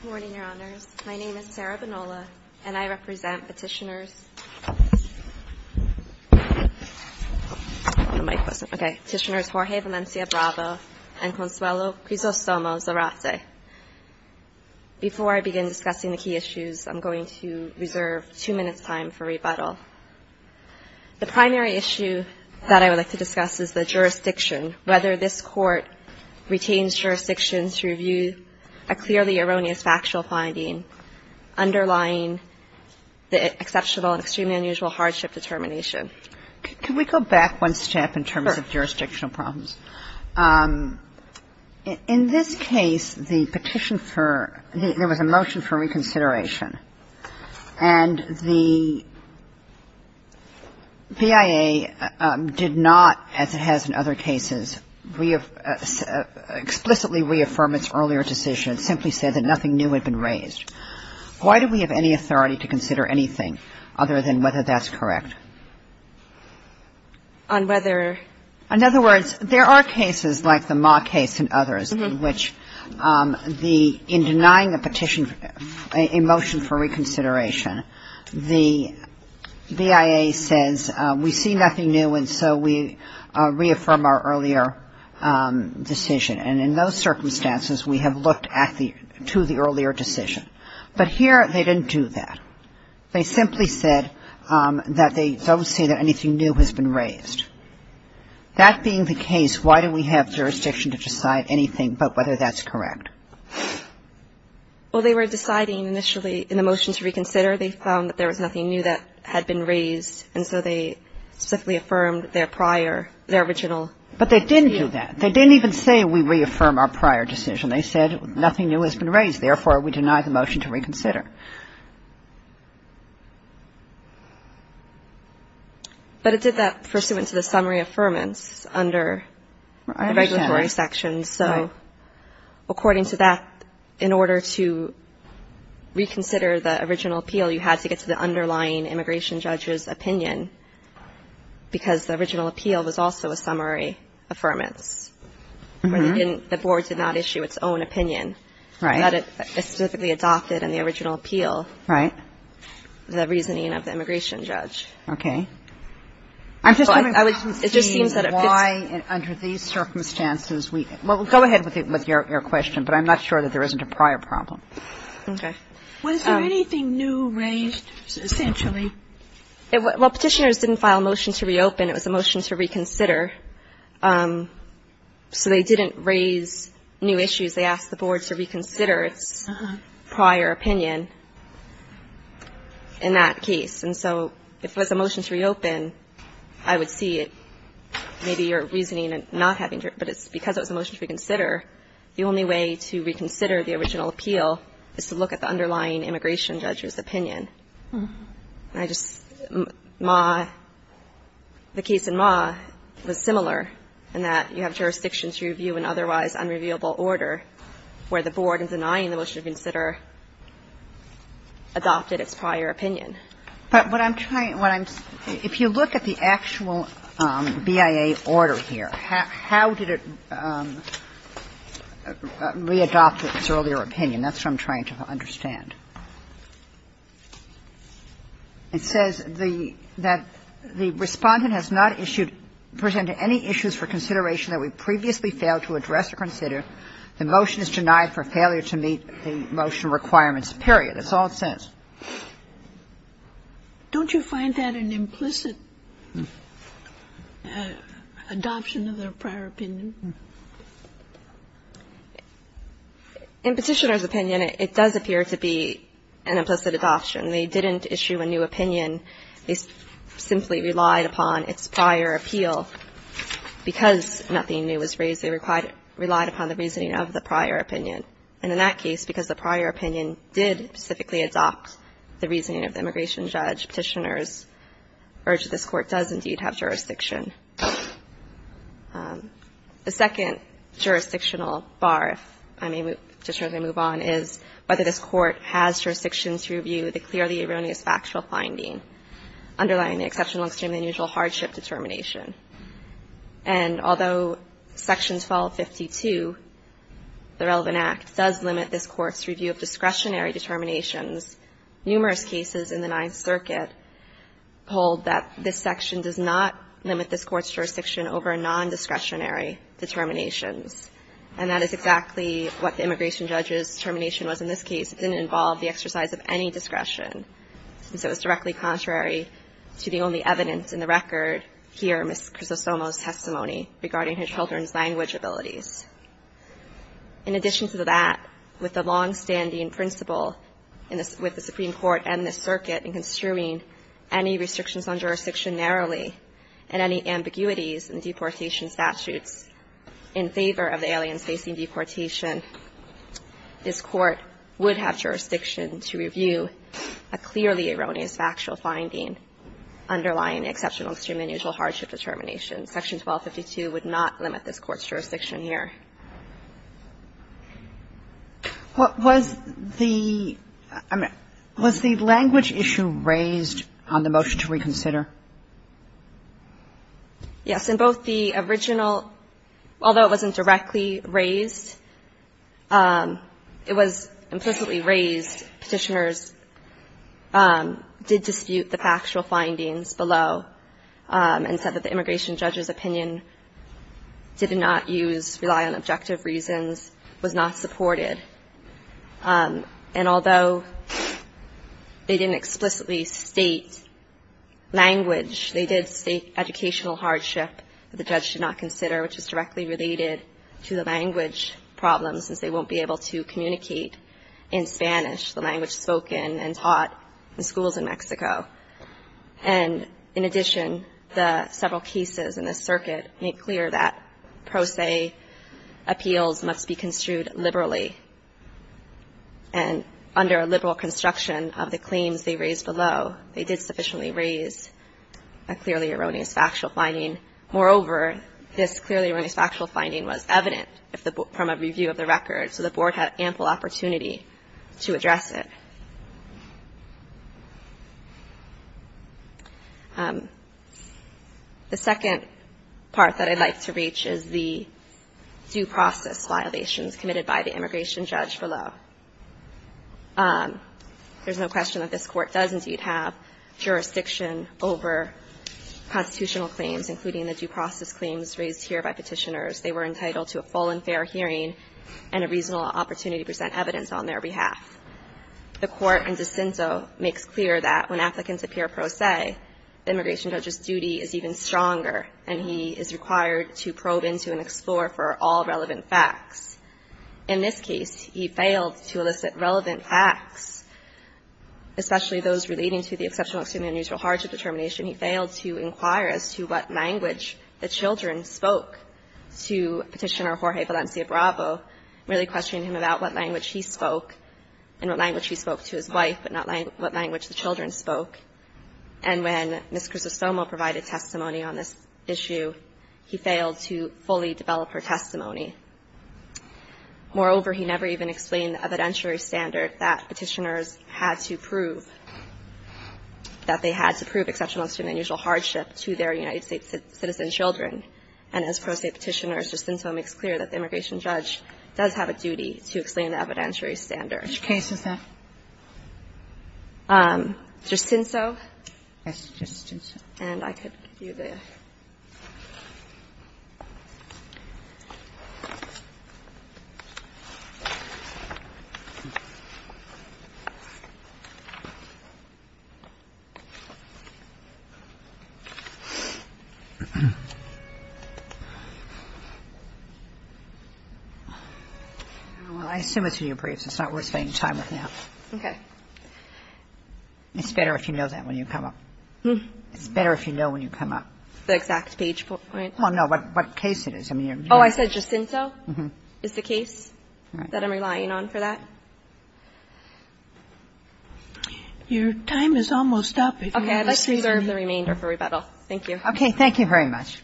Good morning, Your Honors. My name is Sarah Banola, and I represent Petitioners Jorge Valencia Bravo and Consuelo Crisostomo Zarate. Before I begin discussing the key issues, I'm going to reserve two minutes' time for rebuttal. The primary issue that I would like to discuss is the jurisdiction, whether this Court retains jurisdiction to review a clearly erroneous factual finding underlying the exceptional and extremely unusual hardship determination. Can we go back one step in terms of jurisdictional problems? Sure. In this case, the petition for – there was a motion for reconsideration, and the BIA did not, as it has in other cases, explicitly reaffirm its earlier decision and simply said that nothing new had been raised. Why do we have any authority to consider anything other than whether that's correct? On whether – In other words, there are cases like the Ma case and others in which the – in denying a petition – a motion for reconsideration, the BIA says, we see nothing new, and so we reaffirm our earlier decision. And in those circumstances, we have looked at the – to the earlier decision. But here, they didn't do that. They simply said that they don't see that anything new has been raised. That being the case, why do we have jurisdiction to decide anything but whether that's correct? Well, they were deciding initially in the motion to reconsider. They found that there was nothing new that had been raised, and so they specifically affirmed their prior – their original. But they didn't do that. They didn't even say we reaffirm our prior decision. They said nothing new has been raised. Therefore, we deny the motion to reconsider. But it did that pursuant to the summary affirmance under the regulatory section. And so according to that, in order to reconsider the original appeal, you had to get to the underlying immigration judge's opinion, because the original appeal was also a summary affirmance, where they didn't – the board did not issue its own opinion. Right. But it specifically adopted in the original appeal the reasoning of the immigration judge. Okay. I'm just wondering why, under these circumstances, we – well, we're going to look at the Go ahead with your question, but I'm not sure that there isn't a prior problem. Okay. Was there anything new raised, essentially? Well, Petitioners didn't file a motion to reopen. It was a motion to reconsider. So they didn't raise new issues. They asked the board to reconsider its prior opinion in that case. And so if it was a motion to reopen, I would see it maybe your reasoning not having But it's – because it was a motion to reconsider, the only way to reconsider the original appeal is to look at the underlying immigration judge's opinion. I just – Ma – the case in Ma was similar in that you have jurisdiction to review an otherwise unrevealable order, where the board, in denying the motion to reconsider, adopted its prior opinion. But what I'm trying – what I'm – if you look at the actual BIA order here, how did it re-adopt its earlier opinion? That's what I'm trying to understand. It says the – that the Respondent has not issued – presented any issues for consideration that we previously failed to address or consider. The motion is denied for failure to meet the motion requirements, period. That's all it says. Don't you find that an implicit adoption of their prior opinion? In Petitioner's opinion, it does appear to be an implicit adoption. They didn't issue a new opinion. They simply relied upon its prior appeal. Because nothing new was raised, they relied upon the reasoning of the prior opinion. And in that case, because the prior opinion did specifically adopt the reasoning of the immigration judge, Petitioner's urge that this Court does indeed have jurisdiction. The second jurisdictional bar, if I may move – Petitioner, as I move on, is whether this Court has jurisdiction to review the clearly erroneous factual finding underlying the exceptional, extremely unusual hardship determination. And although Section 1252, the relevant Act, does limit this Court's review of discretionary determinations, numerous cases in the Ninth Circuit hold that this section does not limit this Court's jurisdiction over nondiscretionary determinations. And that is exactly what the immigration judge's determination was in this case. It didn't involve the exercise of any discretion. And so it's directly contrary to the only evidence in the record here, Ms. Crisostomo's testimony regarding her children's language abilities. In addition to that, with the longstanding principle with the Supreme Court and the circuit in construing any restrictions on jurisdiction narrowly, and any ambiguities in deportation statutes in favor of the aliens facing deportation, this Court would have jurisdiction to review a clearly erroneous factual finding underlying exceptional, extremely unusual hardship determination. Section 1252 would not limit this Court's jurisdiction here. Sotomayor, what was the – I mean, was the language issue raised on the motion to reconsider? Yes. In both the original – although it wasn't directly raised, it was implicitly raised, petitioners did dispute the factual findings below and said that the immigration judge's opinion did not use – rely on objective reasons, was not supported. And although they didn't explicitly state language, they did state educational hardship the judge should not consider, which is directly related to the language problem, since they had language spoken and taught in schools in Mexico. And in addition, the several cases in the circuit make clear that pro se appeals must be construed liberally. And under a liberal construction of the claims they raised below, they did sufficiently raise a clearly erroneous factual finding. Moreover, this clearly erroneous factual finding was evident from a review of the record, so the Board had ample opportunity to address it. The second part that I'd like to reach is the due process violations committed by the immigration judge below. There's no question that this Court does indeed have jurisdiction over constitutional claims, including the due process claims raised here by petitioners. They were entitled to a full and fair hearing and a reasonable opportunity to present evidence on their behalf. The Court in De Cinto makes clear that when applicants appear pro se, the immigration judge's duty is even stronger, and he is required to probe into and explore for all relevant facts. In this case, he failed to elicit relevant facts, especially those relating to the exceptional extreme and unusual hardship determination. He failed to inquire as to what language the children spoke to Petitioner Jorge Valencia Bravo, merely questioning him about what language he spoke and what language he spoke to his wife, but not what language the children spoke. And when Ms. Crisostomo provided testimony on this issue, he failed to fully develop her testimony. Moreover, he never even explained the evidentiary standard that Petitioners had to prove, that they had to prove exceptional extreme and unusual hardship to their United States citizen children. And as pro se Petitioner, De Cinto makes clear that the immigration judge does have a duty to explain the evidentiary standard. Sotomayor, which case is that? De Cinto. Yes, De Cinto. And I could give you the other. Well, I assume it's in your briefs. It's not worth spending time with now. Okay. It's better if you know that when you come up. It's better if you know when you come up. The exact page point? Well, no, but what case it is. I mean, you're going to be able to tell. Oh, I said De Cinto? Uh-huh. Is the case that I'm relying on for that? Your time is almost up. Okay. I'd like to reserve the remainder for rebuttal. Thank you. Okay. Thank you very much.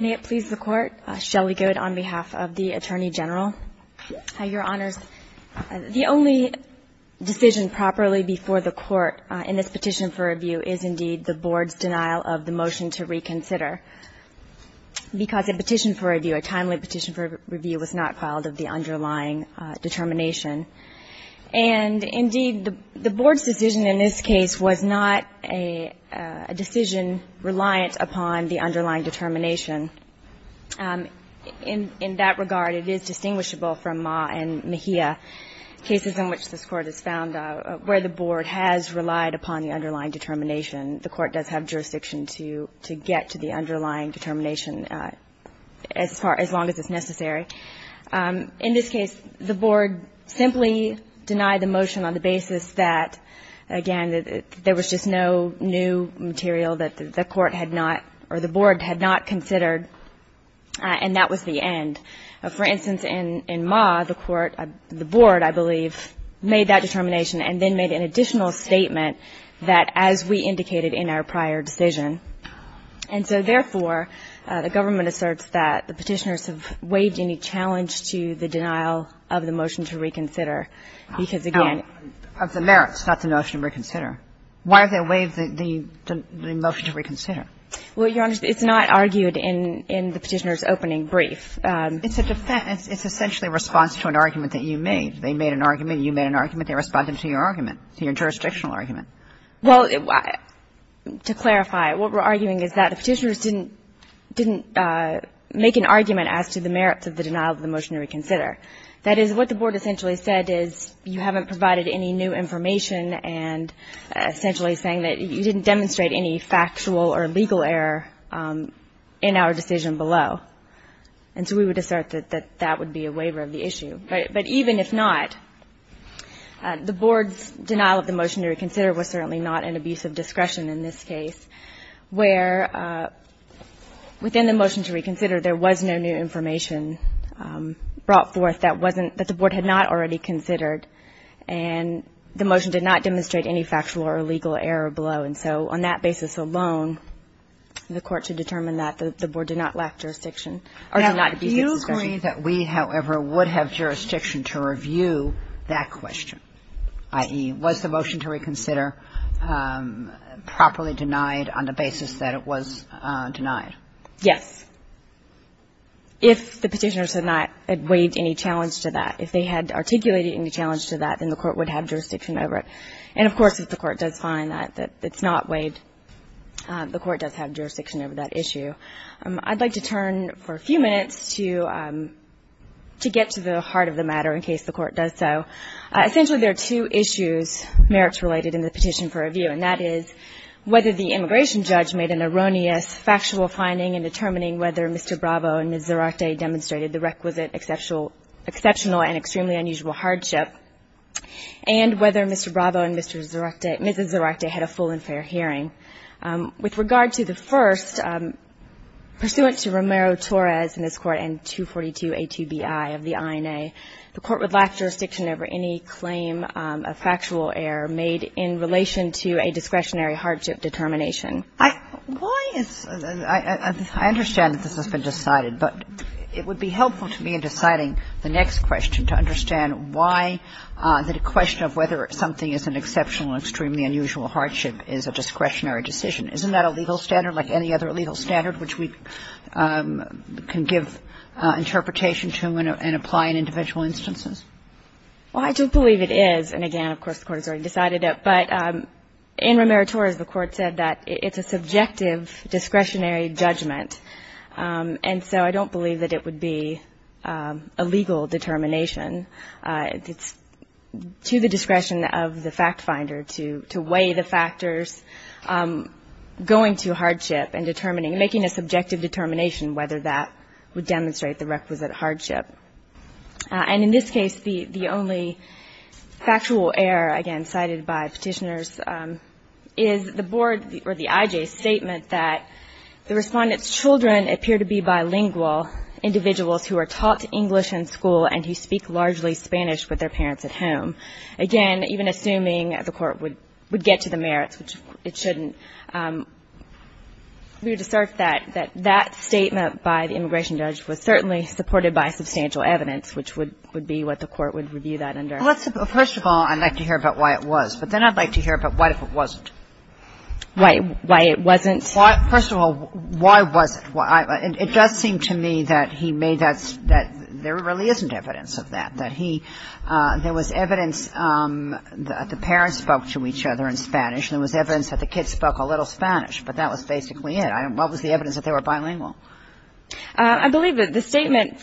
May it please the Court. Shelley Goode on behalf of the Attorney General. Your Honors, the only decision properly before the Court in this petition for review is indeed the Board's denial of the motion to reconsider because a petition for review, a timely petition for review, was not filed of the underlying determination. And indeed, the Board's decision in this case was not a decision reliant upon the underlying determination. In that regard, it is distinguishable from Ma and Mejia cases in which this Court has found where the Board has relied upon the underlying determination. The Court does have jurisdiction to get to the underlying determination as long as it's necessary. In this case, the Board simply denied the motion on the basis that, again, there was just no new material that the Court had not or the Board had not considered and that was the end. For instance, in Ma, the Court, the Board, I believe, made that determination and then made an additional statement that as we indicated in our prior decision. And so, therefore, the government asserts that the Petitioners have waived any challenge of the merits, not the motion to reconsider. Why have they waived the motion to reconsider? Well, Your Honor, it's not argued in the Petitioners' opening brief. It's a defense. It's essentially a response to an argument that you made. They made an argument. You made an argument. They responded to your argument, to your jurisdictional argument. Well, to clarify, what we're arguing is that the Petitioners didn't make an argument as to the merits of the denial of the motion to reconsider. That is, what the Board essentially said is you haven't provided any new information and essentially saying that you didn't demonstrate any factual or legal error in our decision below. And so we would assert that that would be a waiver of the issue. But even if not, the Board's denial of the motion to reconsider was certainly not an abuse of discretion in this case where within the motion to reconsider, there was no new information brought forth that wasn't, that the Board had not already considered. And the motion did not demonstrate any factual or legal error below. And so on that basis alone, the Court should determine that the Board did not lack jurisdiction or did not abuse its discretion. Now, do you agree that we, however, would have jurisdiction to review that question, i.e., was the motion to reconsider properly denied on the basis that it was denied? Yes. If the Petitioners had not waived any challenge to that. If they had articulated any challenge to that, then the Court would have jurisdiction over it. And, of course, if the Court does find that it's not waived, the Court does have jurisdiction over that issue. I'd like to turn for a few minutes to get to the heart of the matter in case the Court does so. Essentially, there are two issues, merits-related, in the petition for review. And that is whether the immigration judge made an erroneous factual finding in determining whether Mr. Bravo and Ms. Zarate demonstrated the requisite exceptional and extremely unusual hardship, and whether Mr. Bravo and Ms. Zarate had a full and fair hearing. With regard to the first, pursuant to Romero-Torres in this Court and 242a2bi of the INA, the Court would lack jurisdiction over any claim of factual error made in relation to a discretionary hardship determination. Why is the – I understand that this has been decided, but it would be helpful to me in deciding the next question to understand why the question of whether something is an exceptional and extremely unusual hardship is a discretionary decision. Isn't that a legal standard, like any other legal standard which we can give interpretation to and apply in individual instances? Well, I do believe it is. And again, of course, the Court has already decided it. But in Romero-Torres, the Court said that it's a subjective discretionary judgment. And so I don't believe that it would be a legal determination. It's to the discretion of the factfinder to weigh the factors going to hardship and determining, making a subjective determination whether that would demonstrate the requisite hardship. And in this case, the only factual error, again, cited by Petitioners, is the board or the IJ's statement that the Respondent's children appear to be bilingual individuals who are taught English in school and who speak largely Spanish with their parents at home. Again, even assuming the Court would get to the merits, which it shouldn't, we would assert that that statement by the immigration judge was certainly supported by substantial evidence, which would be what the Court would review that under. Well, first of all, I'd like to hear about why it was. But then I'd like to hear about why it wasn't. Why it wasn't? First of all, why was it? It does seem to me that he made that ‑‑ that there really isn't evidence of that, that he ‑‑ there was evidence that the parents spoke to each other in Spanish and there was evidence that the kids spoke a little Spanish, but that was basically it. What was the evidence that they were bilingual? I believe that the statement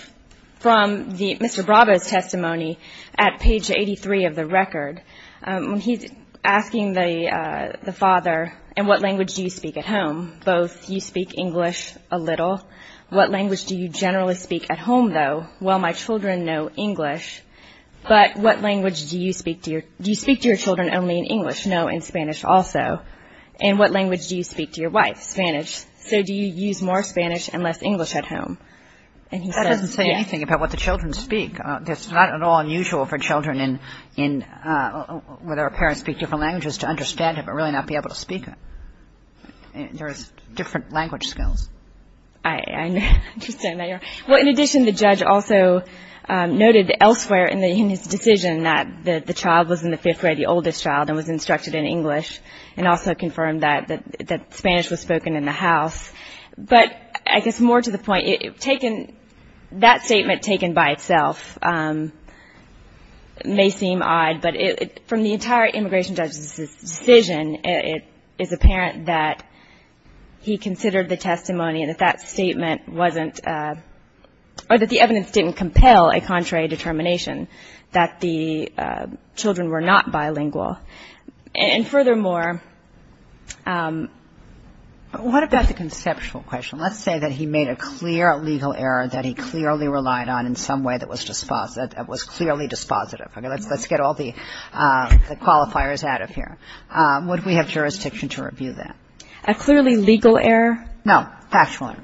from Mr. Bravo's testimony at page 83 of the record, when he's asking the father, in what language do you speak at home? Both, you speak English a little. What language do you generally speak at home, though? Well, my children know English. But what language do you speak to your children only in English? No, in Spanish also. And what language do you speak to your wife? Spanish. So do you use more Spanish and less English at home? That doesn't say anything about what the children speak. It's not at all unusual for children in ‑‑ whether parents speak different languages to understand it, but really not be able to speak it. There's different language skills. I understand that. Well, in addition, the judge also noted elsewhere in his decision that the child was in the fifth grade, the oldest child, and was instructed in English and also confirmed that Spanish was spoken in the house. But I guess more to the point, that statement taken by itself may seem odd, but from the entire immigration judge's decision, it is apparent that he considered the testimony and that that statement wasn't ‑‑ or that the evidence didn't compel a contrary determination that the children were not bilingual. And furthermore ‑‑ What about the conceptual question? Let's say that he made a clear legal error that he clearly relied on in some way that was clearly dispositive. Let's get all the qualifiers out of here. Would we have jurisdiction to review that? A clearly legal error? No, factual error.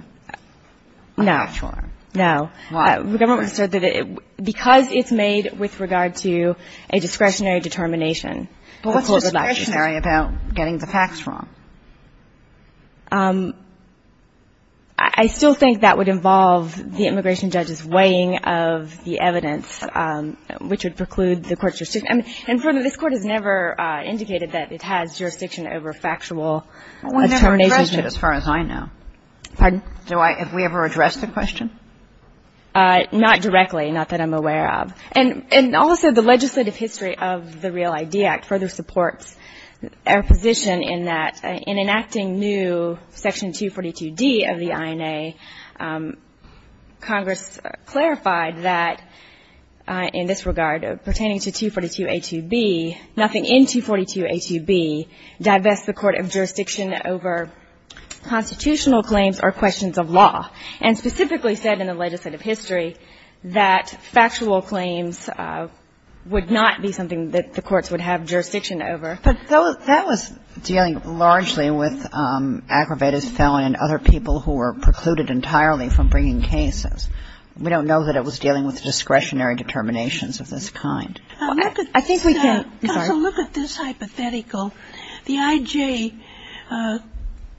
No. A factual error. No. Why? Because it's made with regard to a discretionary determination. But what's discretionary about getting the facts wrong? I still think that would involve the immigration judge's weighing of the evidence, which would preclude the court's jurisdiction. And this court has never indicated that it has jurisdiction over factual determinations. Well, we never addressed it as far as I know. Pardon? Have we ever addressed the question? Not directly, not that I'm aware of. And also, the legislative history of the REAL ID Act further supports our position in that in enacting new section 242D of the INA, Congress clarified that in this regard pertaining to 242A2B, nothing in 242A2B divests the court of jurisdiction over constitutional claims or questions of law. And specifically said in the legislative history that factual claims would not be something that the courts would have jurisdiction over. But that was dealing largely with aggravated felon and other people who were precluding the court from bringing cases. We don't know that it was dealing with discretionary determinations of this kind. Counsel, look at this hypothetical. The IJ,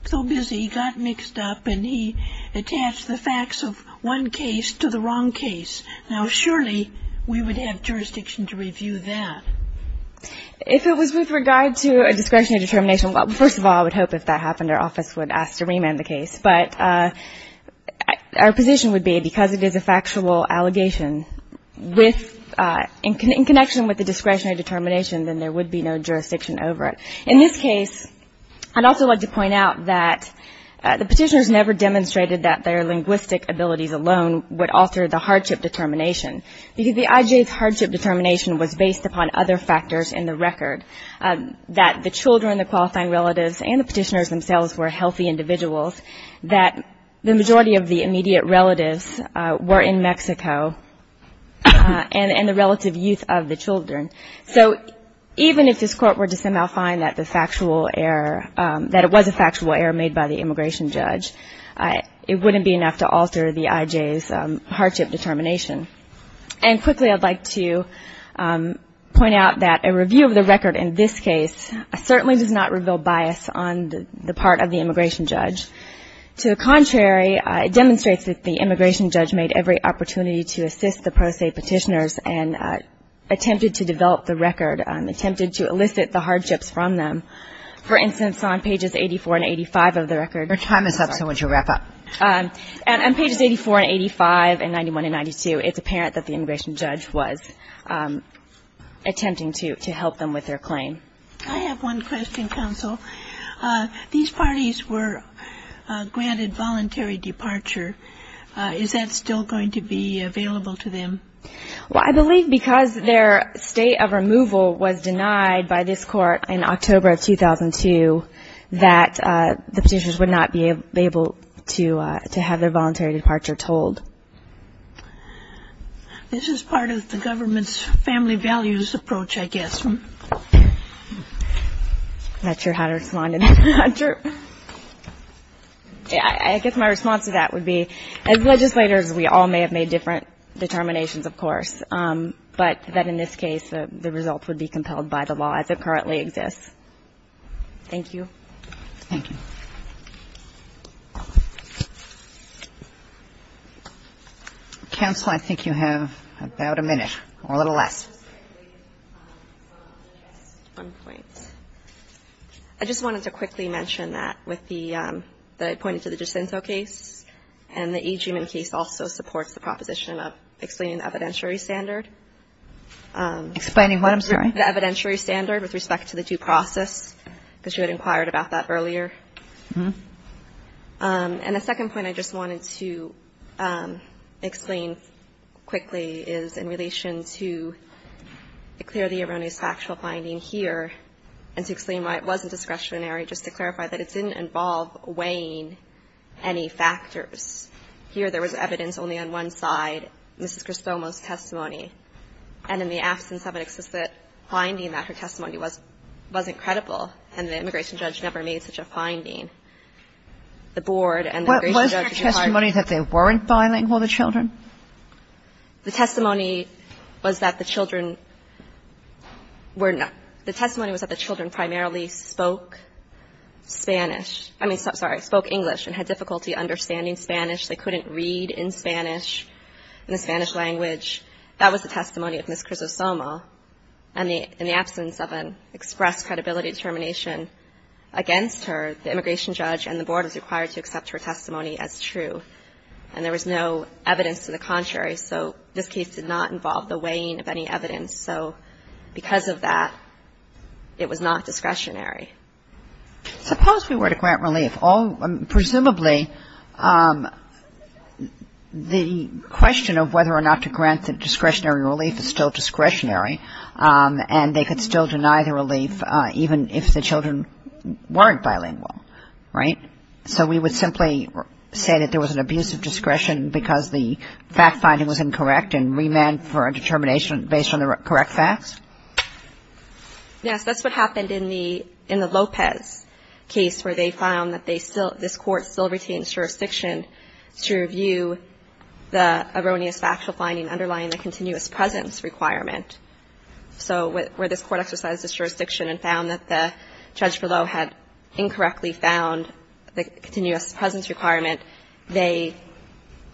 so busy, got mixed up and he attached the facts of one case to the wrong case. Now, surely we would have jurisdiction to review that. If it was with regard to a discretionary determination, well, first of all, I would hope if that happened our office would ask to remand the case. But our position would be because it is a factual allegation with, in connection with the discretionary determination, then there would be no jurisdiction over it. In this case, I'd also like to point out that the petitioners never demonstrated that their linguistic abilities alone would alter the hardship determination. Because the IJ's hardship determination was based upon other factors in the record. That the children, the qualifying relatives, and the petitioners themselves were healthy individuals, that the majority of the immediate relatives were in Mexico, and the relative youth of the children. So, even if this court were to somehow find that the factual error, that it was a factual error made by the immigration judge, it wouldn't be enough to alter the IJ's hardship determination. And quickly, I'd like to point out that a review of the record in this case certainly does not reveal bias on the part of the immigration judge. To the contrary, it demonstrates that the immigration judge made every opportunity to assist the pro se petitioners and attempted to develop the record, attempted to elicit the hardships from them. For instance, on pages 84 and 85 of the record. Your time is up, so I want you to wrap up. On pages 84 and 85, and 91 and 92, it's apparent that the immigration judge was attempting to help them with their claim. I have one question, counsel. These parties were granted voluntary departure. Is that still going to be available to them? Well, I believe because their state of removal was denied by this court in October of 2002, that the petitioners would not be able to have their voluntary departure told. This is part of the government's family values approach, I guess. I'm not sure how to respond to that. I guess my response to that would be, as legislators, we all may have made different determinations, of course. But that in this case, the results would be compelled by the law as it currently exists. Thank you. Thank you. Counsel, I think you have about a minute, or a little less. One point. I just wanted to quickly mention that with the point to the Jacinto case, and the E. G. Minn case also supports the proposition of explaining the evidentiary standard. Explaining what, I'm sorry? The evidentiary standard with respect to the due process, because you had inquired about that earlier. And the second point I just wanted to explain quickly is in relation to the clearly erroneous factual finding here, and to explain why it wasn't discretionary, just to clarify that it didn't involve weighing any factors. Here there was evidence only on one side, Mrs. Cristomo's testimony. And in the absence of an explicit finding that her testimony wasn't credible, and the immigration judge never made such a finding, the board and the immigration judge. Was her testimony that they weren't filing for the children? The testimony was that the children were not, the testimony was that the children primarily spoke Spanish, I mean, sorry, spoke English, and had difficulty understanding Spanish. They couldn't read in Spanish, in the Spanish language. That was the testimony of Mrs. Cristomo. And in the absence of an expressed credibility determination against her, the immigration judge and the board was required to accept her testimony as true. And there was no evidence to the contrary, so this case did not involve the weighing of any evidence. So because of that, it was not discretionary. Suppose we were to grant relief. Presumably the question of whether or not to grant the discretionary relief is still discretionary, and they could still deny the relief even if the children weren't bilingual, right? So we would simply say that there was an abuse of discretion because the fact-finding was incorrect and remand for a determination based on the correct facts? Yes, that's what happened in the Lopez case, where they found that they still, this court still retained jurisdiction to review the erroneous factual finding underlying the continuous presence requirement. So where this court exercised its jurisdiction and found that the judge below had incorrectly found the continuous presence requirement, they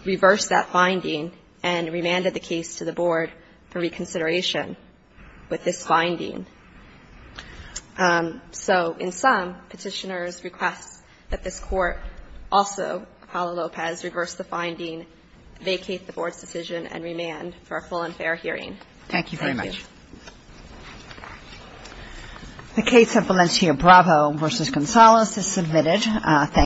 reversed that finding and remanded the case to the board for reconsideration with this finding. So in sum, petitioners request that this court, also Apollo Lopez, reverse the finding, vacate the board's decision and remand for a full and fair hearing. Thank you very much. The case of Valencia Bravo v. Gonzalez is submitted.